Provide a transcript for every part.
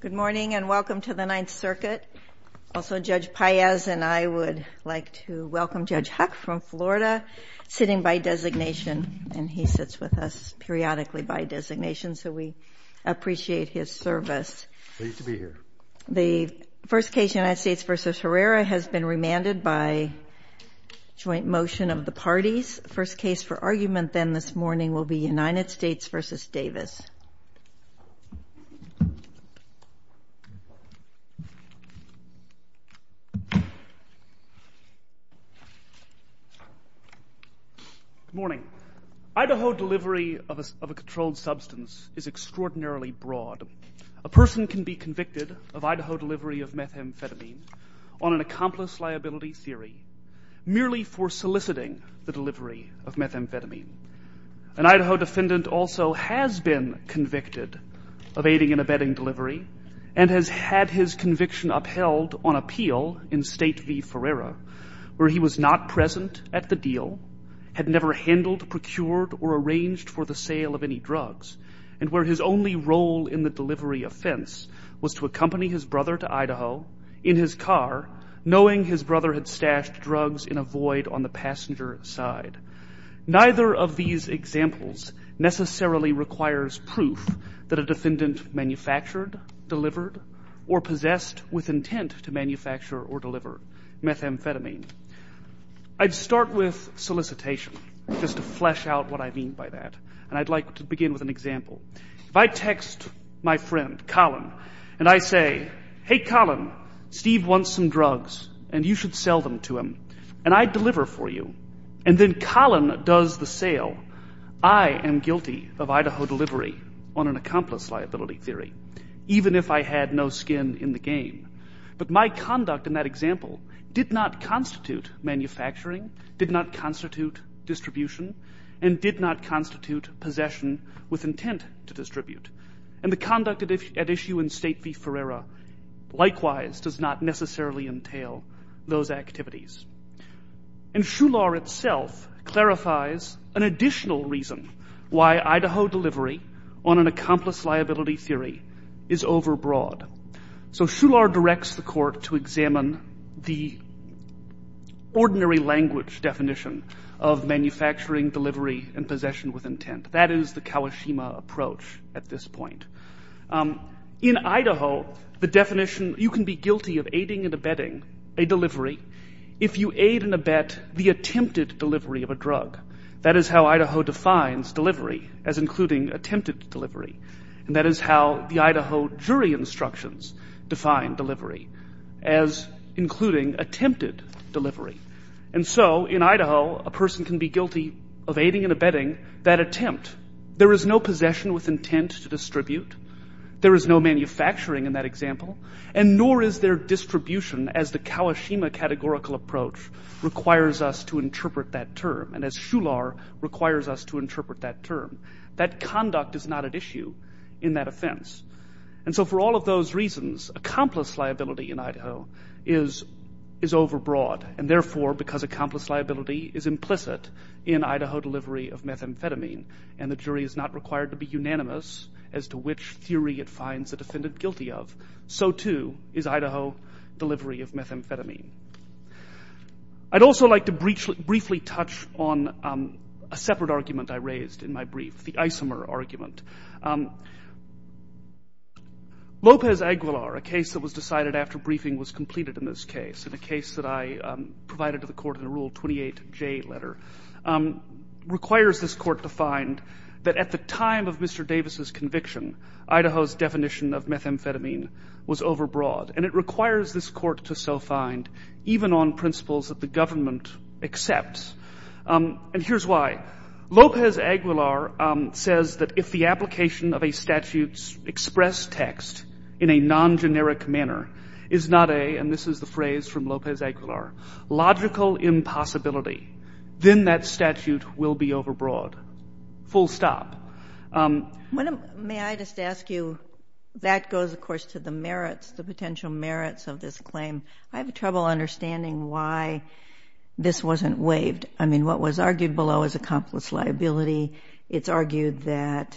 Good morning and welcome to the Ninth Circuit. Also, Judge Paez and I would like to welcome Judge Huck from Florida, sitting by designation, and he sits with us periodically by designation, so we appreciate his service. Pleased to be here. The first case, United States v. Herrera, has been remanded by joint motion of the parties. First case for argument then this morning will be United States v. Davis. Good morning. Idaho delivery of a controlled substance is extraordinarily broad. A person can be convicted of Idaho delivery of methamphetamine on an accomplice liability theory, merely for soliciting the delivery of methamphetamine. An Idaho defendant also has been convicted of aiding in a bedding delivery and has had his conviction upheld on appeal in State v. Herrera, where he was not present at the deal, had never handled, procured, or arranged for the sale of any drugs, and where his only role in the delivery offense was to accompany his brother to Idaho in his car, knowing his brother had stashed drugs in a void on the passenger side. Neither of these examples necessarily requires proof that a defendant manufactured, delivered, or possessed with intent to manufacture or deliver methamphetamine. I'd start with solicitation, just to flesh out what I mean by that, and I'd like to begin with an example. If I text my friend, Colin, and I say, hey, Colin, Steve wants some drugs, and you should sell them to him, and I deliver for you, and then Colin does the sale, I am guilty of Idaho delivery on an accomplice liability theory, even if I had no skin in the game. But my conduct in that example did not constitute manufacturing, did not constitute distribution, and did not constitute possession with intent to distribute. And the conduct at issue in State v. Herrera likewise does not necessarily entail those activities. And Shular itself clarifies an additional reason why Idaho delivery on an accomplice liability theory is overbroad. So Shular directs the court to examine the ordinary language definition of manufacturing, delivery, and possession with intent. That is the Kawashima approach at this point. In Idaho, the definition, you can be guilty of aiding and abetting a delivery if you aid and abet the attempted delivery of a drug. That is how Idaho defines delivery as including attempted delivery. And that is how the Idaho jury instructions define delivery as including attempted delivery. And so in Idaho, a person can be guilty of aiding and abetting that attempt. There is no possession with intent to distribute. There is no manufacturing in that example. And nor is there distribution as the Kawashima categorical approach requires us to interpret that term and as Shular requires us to interpret that term. That conduct is not at issue in that offense. And so for all of those reasons, accomplice liability in Idaho is overbroad. And therefore, because accomplice liability is implicit in Idaho delivery of methamphetamine, and the jury is not required to be unanimous as to which theory it finds the defendant guilty of, so too is Idaho delivery of methamphetamine. I'd also like to briefly touch on a separate argument I raised in my brief, the Isomer argument. Lopez-Aguilar, a case that was decided after briefing was completed in this case, in a case that I provided to the court in a Rule 28J letter, requires this court to find that at the time of Mr. Davis's conviction, Idaho's definition of methamphetamine was overbroad. And it requires this court to so find, even on principles that the government accepts. And here's why. Lopez-Aguilar says that if the application of a statute's express text in a non-generic manner is not a, and this is the phrase from Lopez-Aguilar, logical impossibility, then that statute will be overbroad. Full stop. May I just ask you, that goes, of course, to the merits, the potential merits of this claim. I have trouble understanding why this wasn't waived. I mean, what was argued below is accomplice liability. It's argued that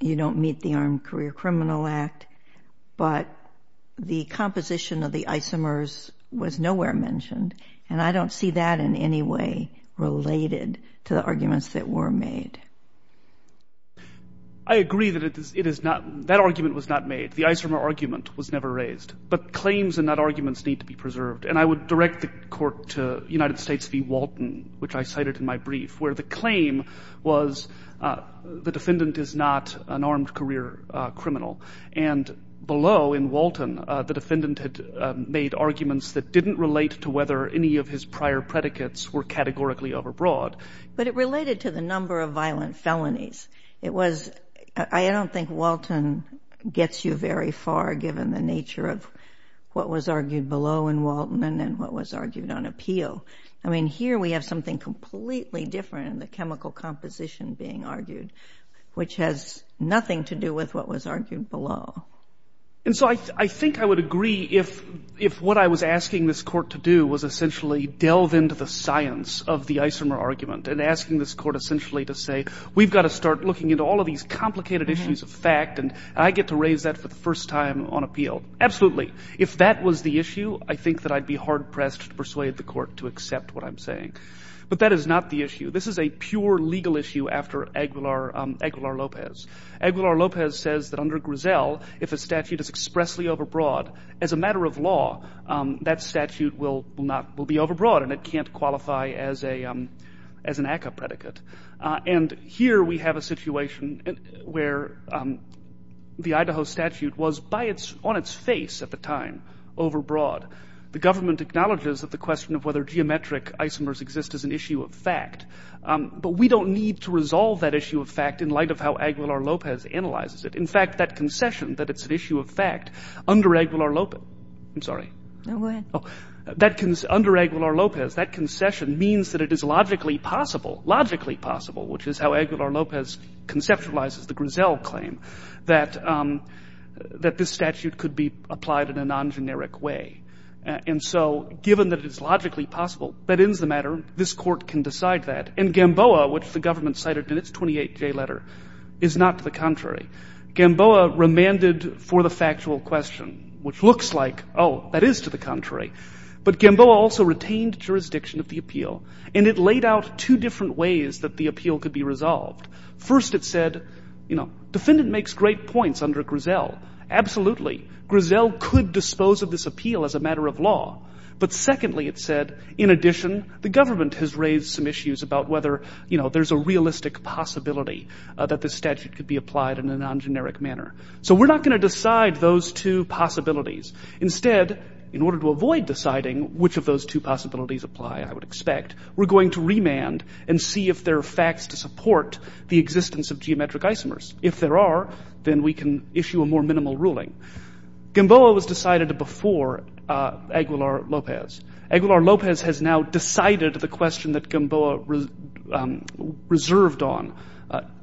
you don't meet the Armed Career Criminal Act. But the composition of the Isomers was nowhere mentioned. And I don't see that in any way related to the arguments that were made. I agree that it is not, that argument was not made. The Isomer argument was never raised. But claims and not arguments need to be preserved. And I would direct the court to United States v. Walton, which I cited in my brief, where the claim was the defendant is not an armed career criminal. And below in Walton, the defendant had made arguments that didn't relate to whether any of his prior predicates were categorically overbroad. But it related to the number of violent felonies. It was, I don't think Walton gets you very far given the nature of what was argued below in Walton and then what was argued on appeal. I mean, here we have something completely different in the chemical composition being argued, which has nothing to do with what was argued below. And so I think I would agree if what I was asking this court to do was essentially delve into the science of the Isomer argument and asking this court essentially to say, we've got to start looking into all of these complicated issues of fact, and I get to raise that for the first time on appeal. Absolutely. If that was the issue, I think that I'd be hard-pressed to persuade the court to accept what I'm saying. But that is not the issue. This is a pure legal issue after Aguilar-Lopez. Aguilar-Lopez says that under Griselle, if a statute is expressly overbroad, as a matter of law, that statute will be overbroad and it can't qualify as an ACCA predicate. And here we have a situation where the Idaho statute was on its face at the time, overbroad. The government acknowledges that the question of whether geometric isomers exist is an issue of fact. But we don't need to resolve that issue of fact in light of how Aguilar-Lopez analyzes it. In fact, that concession, that it's an issue of fact, under Aguilar-Lopez I'm sorry. Go ahead. Under Aguilar-Lopez, that concession means that it is logically possible, logically possible, which is how Aguilar-Lopez conceptualizes the Griselle claim, that this statute could be applied in a non-generic way. And so given that it is logically possible, that ends the matter. This Court can decide that. And Gamboa, which the government cited in its 28J letter, is not to the contrary. Gamboa remanded for the factual question, which looks like, oh, that is to the contrary. But Gamboa also retained jurisdiction of the appeal, and it laid out two different ways that the appeal could be resolved. First, it said, you know, defendant makes great points under Griselle. Absolutely, Griselle could dispose of this appeal as a matter of law. But secondly, it said, in addition, the government has raised some issues about whether, you know, there's a realistic possibility that this statute could be applied in a non-generic manner. So we're not going to decide those two possibilities. Instead, in order to avoid deciding which of those two possibilities apply, I would expect, we're going to remand and see if there are facts to support the existence of geometric isomers. If there are, then we can issue a more minimal ruling. Gamboa was decided before Aguilar-Lopez. Aguilar-Lopez has now decided the question that Gamboa reserved on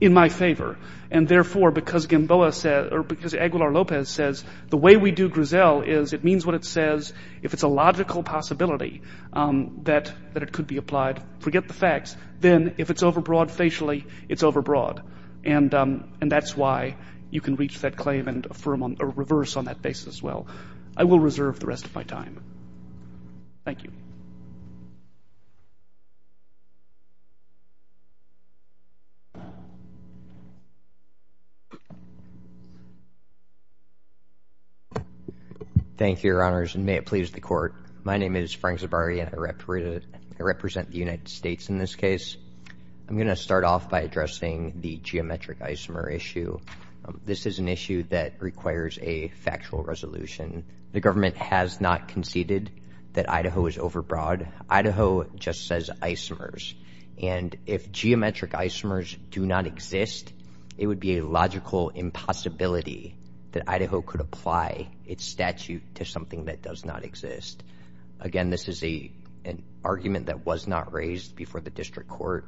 in my favor. And therefore, because Gamboa said or because Aguilar-Lopez says the way we do Griselle is it means what it says. If it's a logical possibility that it could be applied, forget the facts. Then if it's overbroad facially, it's overbroad. And that's why you can reach that claim and reverse on that basis as well. I will reserve the rest of my time. Thank you. Thank you, Your Honors, and may it please the Court. My name is Frank Zabari, and I represent the United States in this case. I'm going to start off by addressing the geometric isomer issue. This is an issue that requires a factual resolution. The government has not conceded that Idaho is overbroad. Idaho just says isomers. And if geometric isomers do not exist, it would be a logical impossibility that Idaho could apply its statute to something that does not exist. Again, this is an argument that was not raised before the district court.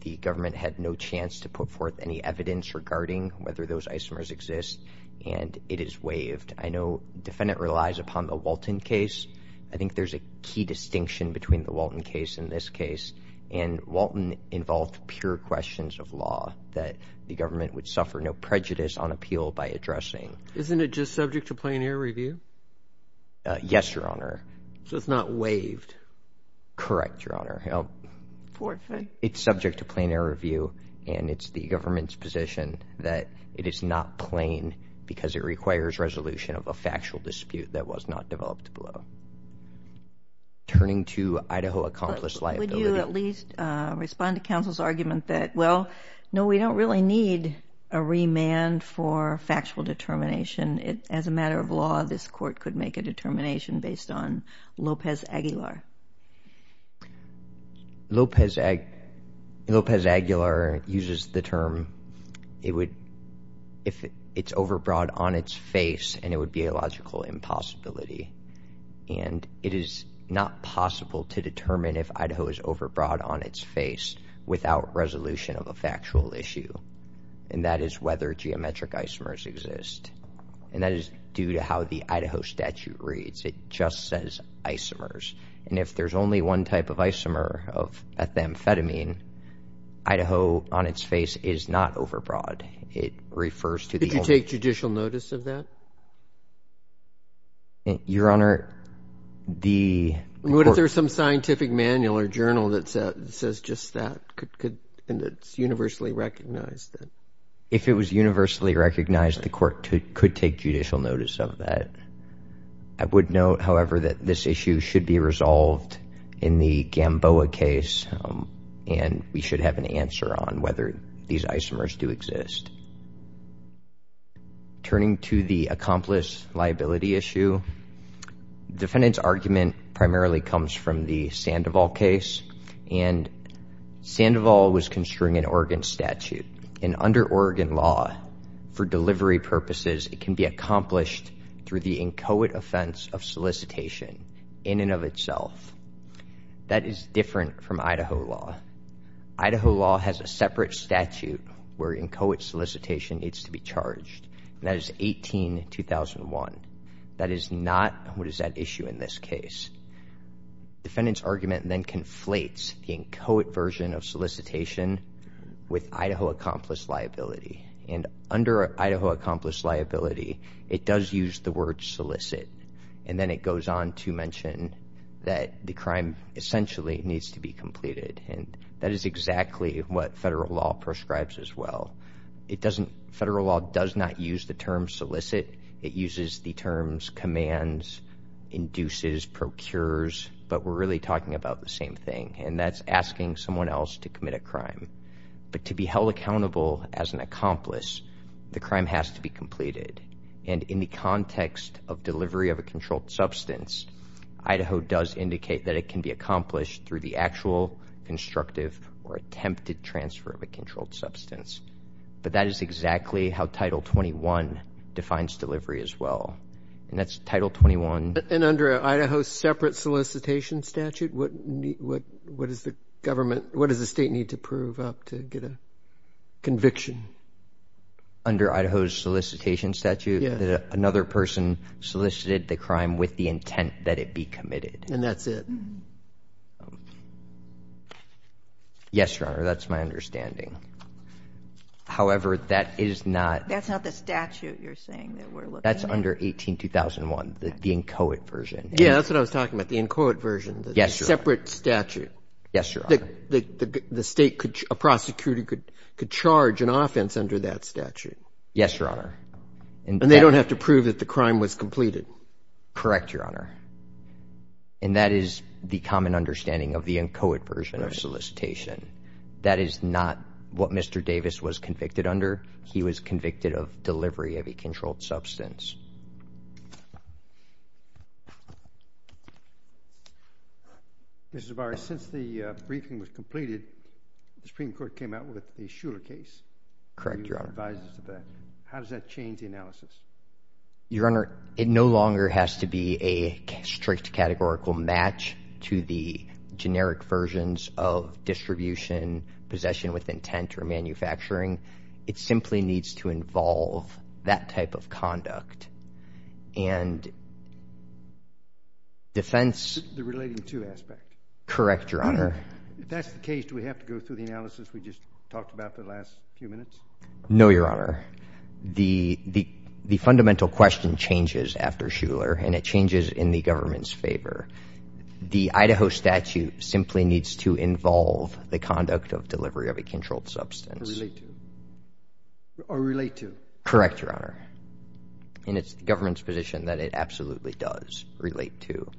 The government had no chance to put forth any evidence regarding whether those isomers exist, and it is waived. I know the defendant relies upon the Walton case. I think there's a key distinction between the Walton case and this case. And Walton involved pure questions of law that the government would suffer no prejudice on appeal by addressing. Isn't it just subject to plain air review? Yes, Your Honor. So it's not waived? Correct, Your Honor. It's subject to plain air review, and it's the government's position that it is not plain because it requires resolution of a factual dispute that was not developed below. Turning to Idaho accomplished liability. Would you at least respond to counsel's argument that, well, no, we don't really need a remand for factual determination. As a matter of law, this court could make a determination based on Lopez-Aguilar. Lopez-Aguilar uses the term if it's overbroad on its face, and it would be a logical impossibility. And it is not possible to determine if Idaho is overbroad on its face without resolution of a factual issue, and that is whether geometric isomers exist. And that is due to how the Idaho statute reads. It just says isomers. And if there's only one type of isomer of ethamphetamine, Idaho on its face is not overbroad. It refers to the only – Could you take judicial notice of that? Your Honor, the – What if there's some scientific manual or journal that says just that, and it's universally recognized? If it was universally recognized, the court could take judicial notice of that. I would note, however, that this issue should be resolved in the Gamboa case, and we should have an answer on whether these isomers do exist. Turning to the accomplice liability issue, defendant's argument primarily comes from the Sandoval case. And Sandoval was construing an Oregon statute. And under Oregon law, for delivery purposes, it can be accomplished through the inchoate offense of solicitation in and of itself. That is different from Idaho law. Idaho law has a separate statute where inchoate solicitation needs to be charged, and that is 18-2001. That is not what is at issue in this case. Defendant's argument then conflates the inchoate version of solicitation with Idaho accomplice liability. And under Idaho accomplice liability, it does use the word solicit, and then it goes on to mention that the crime essentially needs to be completed. And that is exactly what federal law prescribes as well. It doesn't – federal law does not use the term solicit. It uses the terms commands, induces, procures, but we're really talking about the same thing, and that's asking someone else to commit a crime. But to be held accountable as an accomplice, the crime has to be completed. And in the context of delivery of a controlled substance, Idaho does indicate that it can be accomplished through the actual, constructive, or attempted transfer of a controlled substance. But that is exactly how Title 21 defines delivery as well. And that's Title 21. And under Idaho's separate solicitation statute, what does the government – what does the State need to prove up to get a conviction? Under Idaho's solicitation statute, another person solicited the crime with the intent that it be committed. And that's it. Yes, Your Honor, that's my understanding. However, that is not – That's not the statute you're saying that we're looking at? That's under 18-2001, the inchoate version. Yeah, that's what I was talking about, the inchoate version. Yes, Your Honor. The separate statute. Yes, Your Honor. The State could – a prosecutor could charge an offense under that statute. Yes, Your Honor. And they don't have to prove that the crime was completed. Correct, Your Honor. And that is the common understanding of the inchoate version of solicitation. That is not what Mr. Davis was convicted under. He was convicted of delivery of a controlled substance. Mr. Zavarro, since the briefing was completed, the Supreme Court came out with a Shuler case. How does that change the analysis? Your Honor, it no longer has to be a strict categorical match to the generic versions of distribution, possession with intent, or manufacturing. It simply needs to involve that type of conduct. And defense— The relating to aspect. Correct, Your Honor. If that's the case, do we have to go through the analysis we just talked about for the last few minutes? No, Your Honor. The fundamental question changes after Shuler, and it changes in the government's favor. The Idaho statute simply needs to involve the conduct of delivery of a controlled substance. Or relate to. Correct, Your Honor. And it's the government's position that it absolutely does relate to.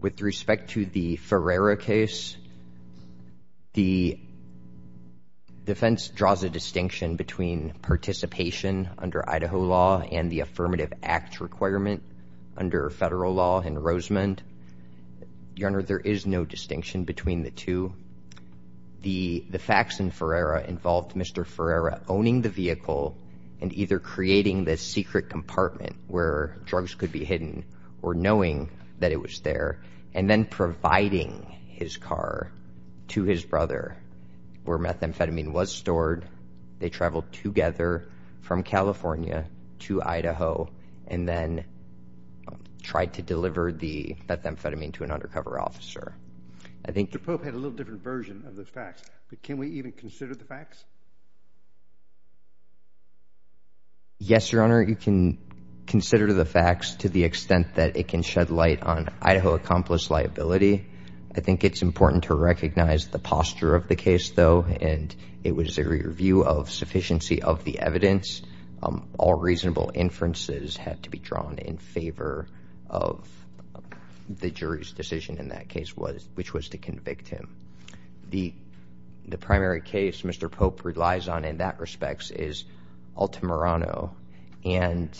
With respect to the Ferreira case, the defense draws a distinction between participation under Idaho law and the Affirmative Acts requirement under federal law and Rosemond. Your Honor, there is no distinction between the two. The facts in Ferreira involved Mr. Ferreira owning the vehicle or knowing that it was there, and then providing his car to his brother where methamphetamine was stored. They traveled together from California to Idaho and then tried to deliver the methamphetamine to an undercover officer. The Pope had a little different version of the facts, but can we even consider the facts? Yes, Your Honor. You can consider the facts to the extent that it can shed light on Idaho accomplice liability. I think it's important to recognize the posture of the case, though, and it was a review of sufficiency of the evidence. All reasonable inferences had to be drawn in favor of the jury's decision in that case, which was to convict him. The primary case Mr. Pope relies on in that respect is Altamirano, and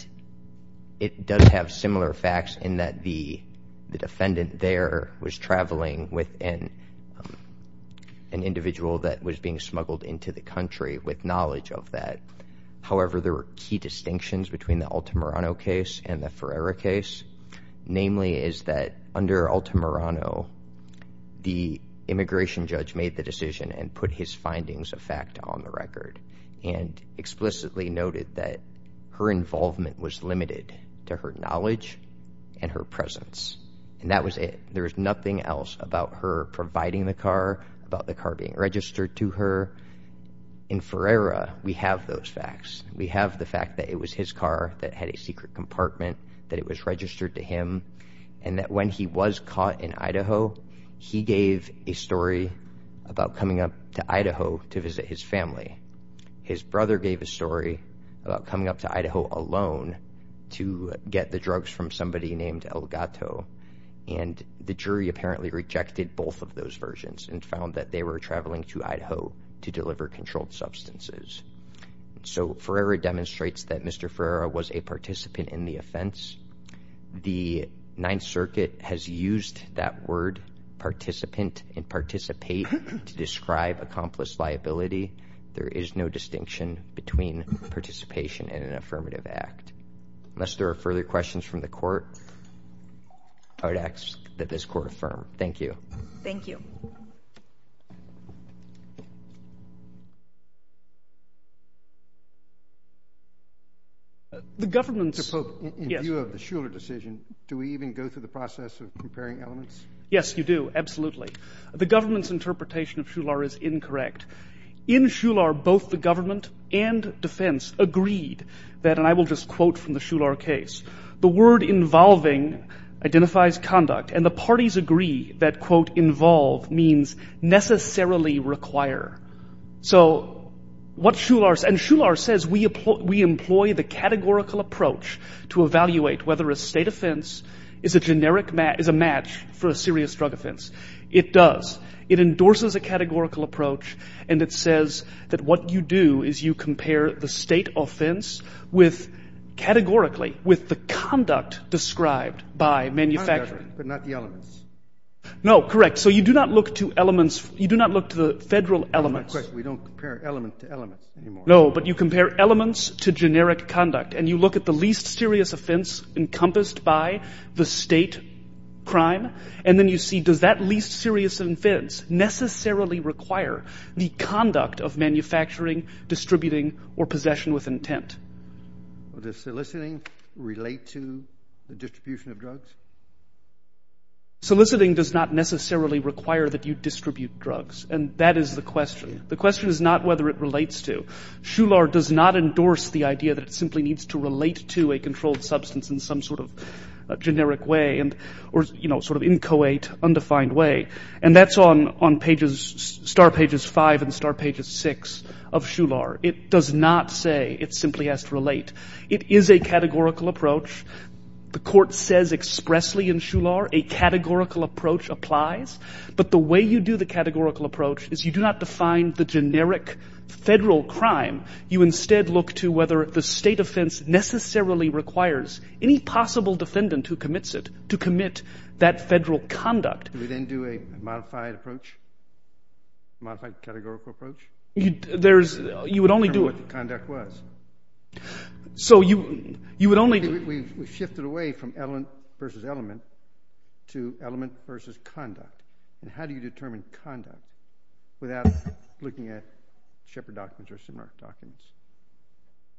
it does have similar facts in that the defendant there was traveling with an individual that was being smuggled into the country with knowledge of that. However, there were key distinctions between the Altamirano case and the Ferreira case, namely is that under Altamirano, the immigration judge made the decision and put his findings of fact on the record and explicitly noted that her involvement was limited to her knowledge and her presence, and that was it. There was nothing else about her providing the car, about the car being registered to her. In Ferreira, we have those facts. We have the fact that it was his car that had a secret compartment, that it was registered to him, and that when he was caught in Idaho, he gave a story about coming up to Idaho to visit his family. His brother gave a story about coming up to Idaho alone to get the drugs from somebody named El Gato, and the jury apparently rejected both of those versions and found that they were traveling to Idaho to deliver controlled substances. So Ferreira demonstrates that Mr. Ferreira was a participant in the offense. The Ninth Circuit has used that word participant and participate to describe accomplice liability. There is no distinction between participation in an affirmative act. Unless there are further questions from the court, I would ask that this court affirm. Thank you. Thank you. Mr. Pope, in view of the Shular decision, do we even go through the process of comparing elements? Yes, you do, absolutely. The government's interpretation of Shular is incorrect. In Shular, both the government and defense agreed that, and I will just quote from the Shular case, the word involving identifies conduct, and the parties agree that, quote, involve means necessarily require. So what Shular, and Shular says we employ the categorical approach to evaluate whether a state offense is a generic, is a match for a serious drug offense. It does. It endorses a categorical approach, and it says that what you do is you compare the state offense with, categorically, with the conduct described by manufacturers. But not the elements. No, correct. So you do not look to elements. You do not look to the federal elements. Correct. We don't compare element to element anymore. No, but you compare elements to generic conduct, and you look at the least serious offense encompassed by the state crime, and then you see, does that least serious offense necessarily require the conduct of manufacturing, distributing, or possession with intent? Does soliciting relate to the distribution of drugs? Soliciting does not necessarily require that you distribute drugs, and that is the question. The question is not whether it relates to. Shular does not endorse the idea that it simply needs to relate to a controlled substance in some sort of generic way or, you know, sort of inchoate, undefined way, and that's on pages, star pages 5 and star pages 6 of Shular. It does not say it simply has to relate. It is a categorical approach. The court says expressly in Shular a categorical approach applies, but the way you do the categorical approach is you do not define the generic federal crime. You instead look to whether the state offense necessarily requires any possible defendant who commits it to commit that federal conduct. Do we then do a modified approach, modified categorical approach? You would only do it. To determine what the conduct was. So you would only. We shifted away from element versus element to element versus conduct, and how do you determine conduct without looking at Shepard documents or similar documents?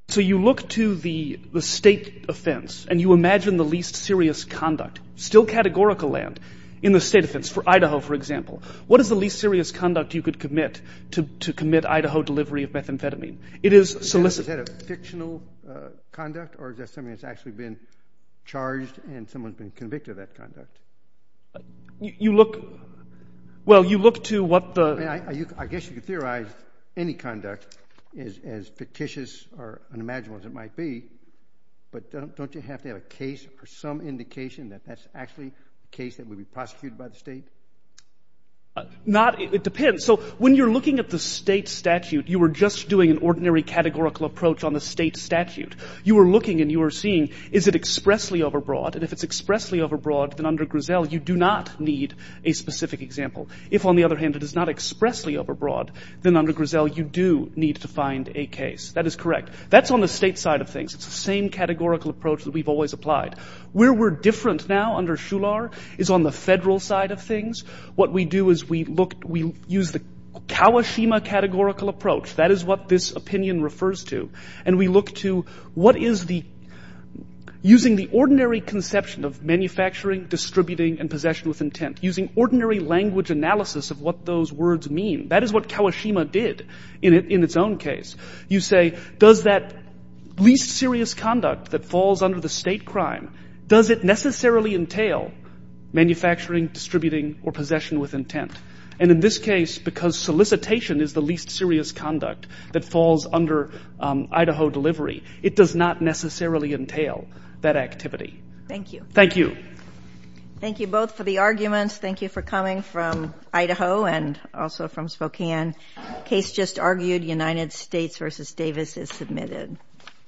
So you look to the state offense and you imagine the least serious conduct, still categorical land in the state offense, for Idaho, for example. What is the least serious conduct you could commit to commit Idaho delivery of methamphetamine? It is solicit. Is that a fictional conduct, or is that something that's actually been charged and someone's been convicted of that conduct? You look. Well, you look to what the. I guess you could theorize any conduct is as fictitious or unimaginable as it might be, but don't you have to have a case or some indication that that's actually a case that would be prosecuted by the state? Not. It depends. So when you're looking at the state statute, you were just doing an ordinary categorical approach on the state statute. You were looking and you were seeing, is it expressly overbroad? And if it's expressly overbroad, then under Grisel you do not need a specific example. If, on the other hand, it is not expressly overbroad, then under Grisel you do need to find a case. That is correct. That's on the state side of things. It's the same categorical approach that we've always applied. Where we're different now under Shular is on the federal side of things. What we do is we look, we use the Kawashima categorical approach. That is what this opinion refers to. And we look to what is the, using the ordinary conception of manufacturing, distributing, and possession with intent, using ordinary language analysis of what those words mean. That is what Kawashima did in its own case. You say, does that least serious conduct that falls under the state crime, does it necessarily entail manufacturing, distributing, or possession with intent? And in this case, because solicitation is the least serious conduct that falls under Idaho delivery, it does not necessarily entail that activity. Thank you. Thank you. Thank you both for the arguments. Thank you for coming from Idaho and also from Spokane. Case just argued, United States v. Davis is submitted.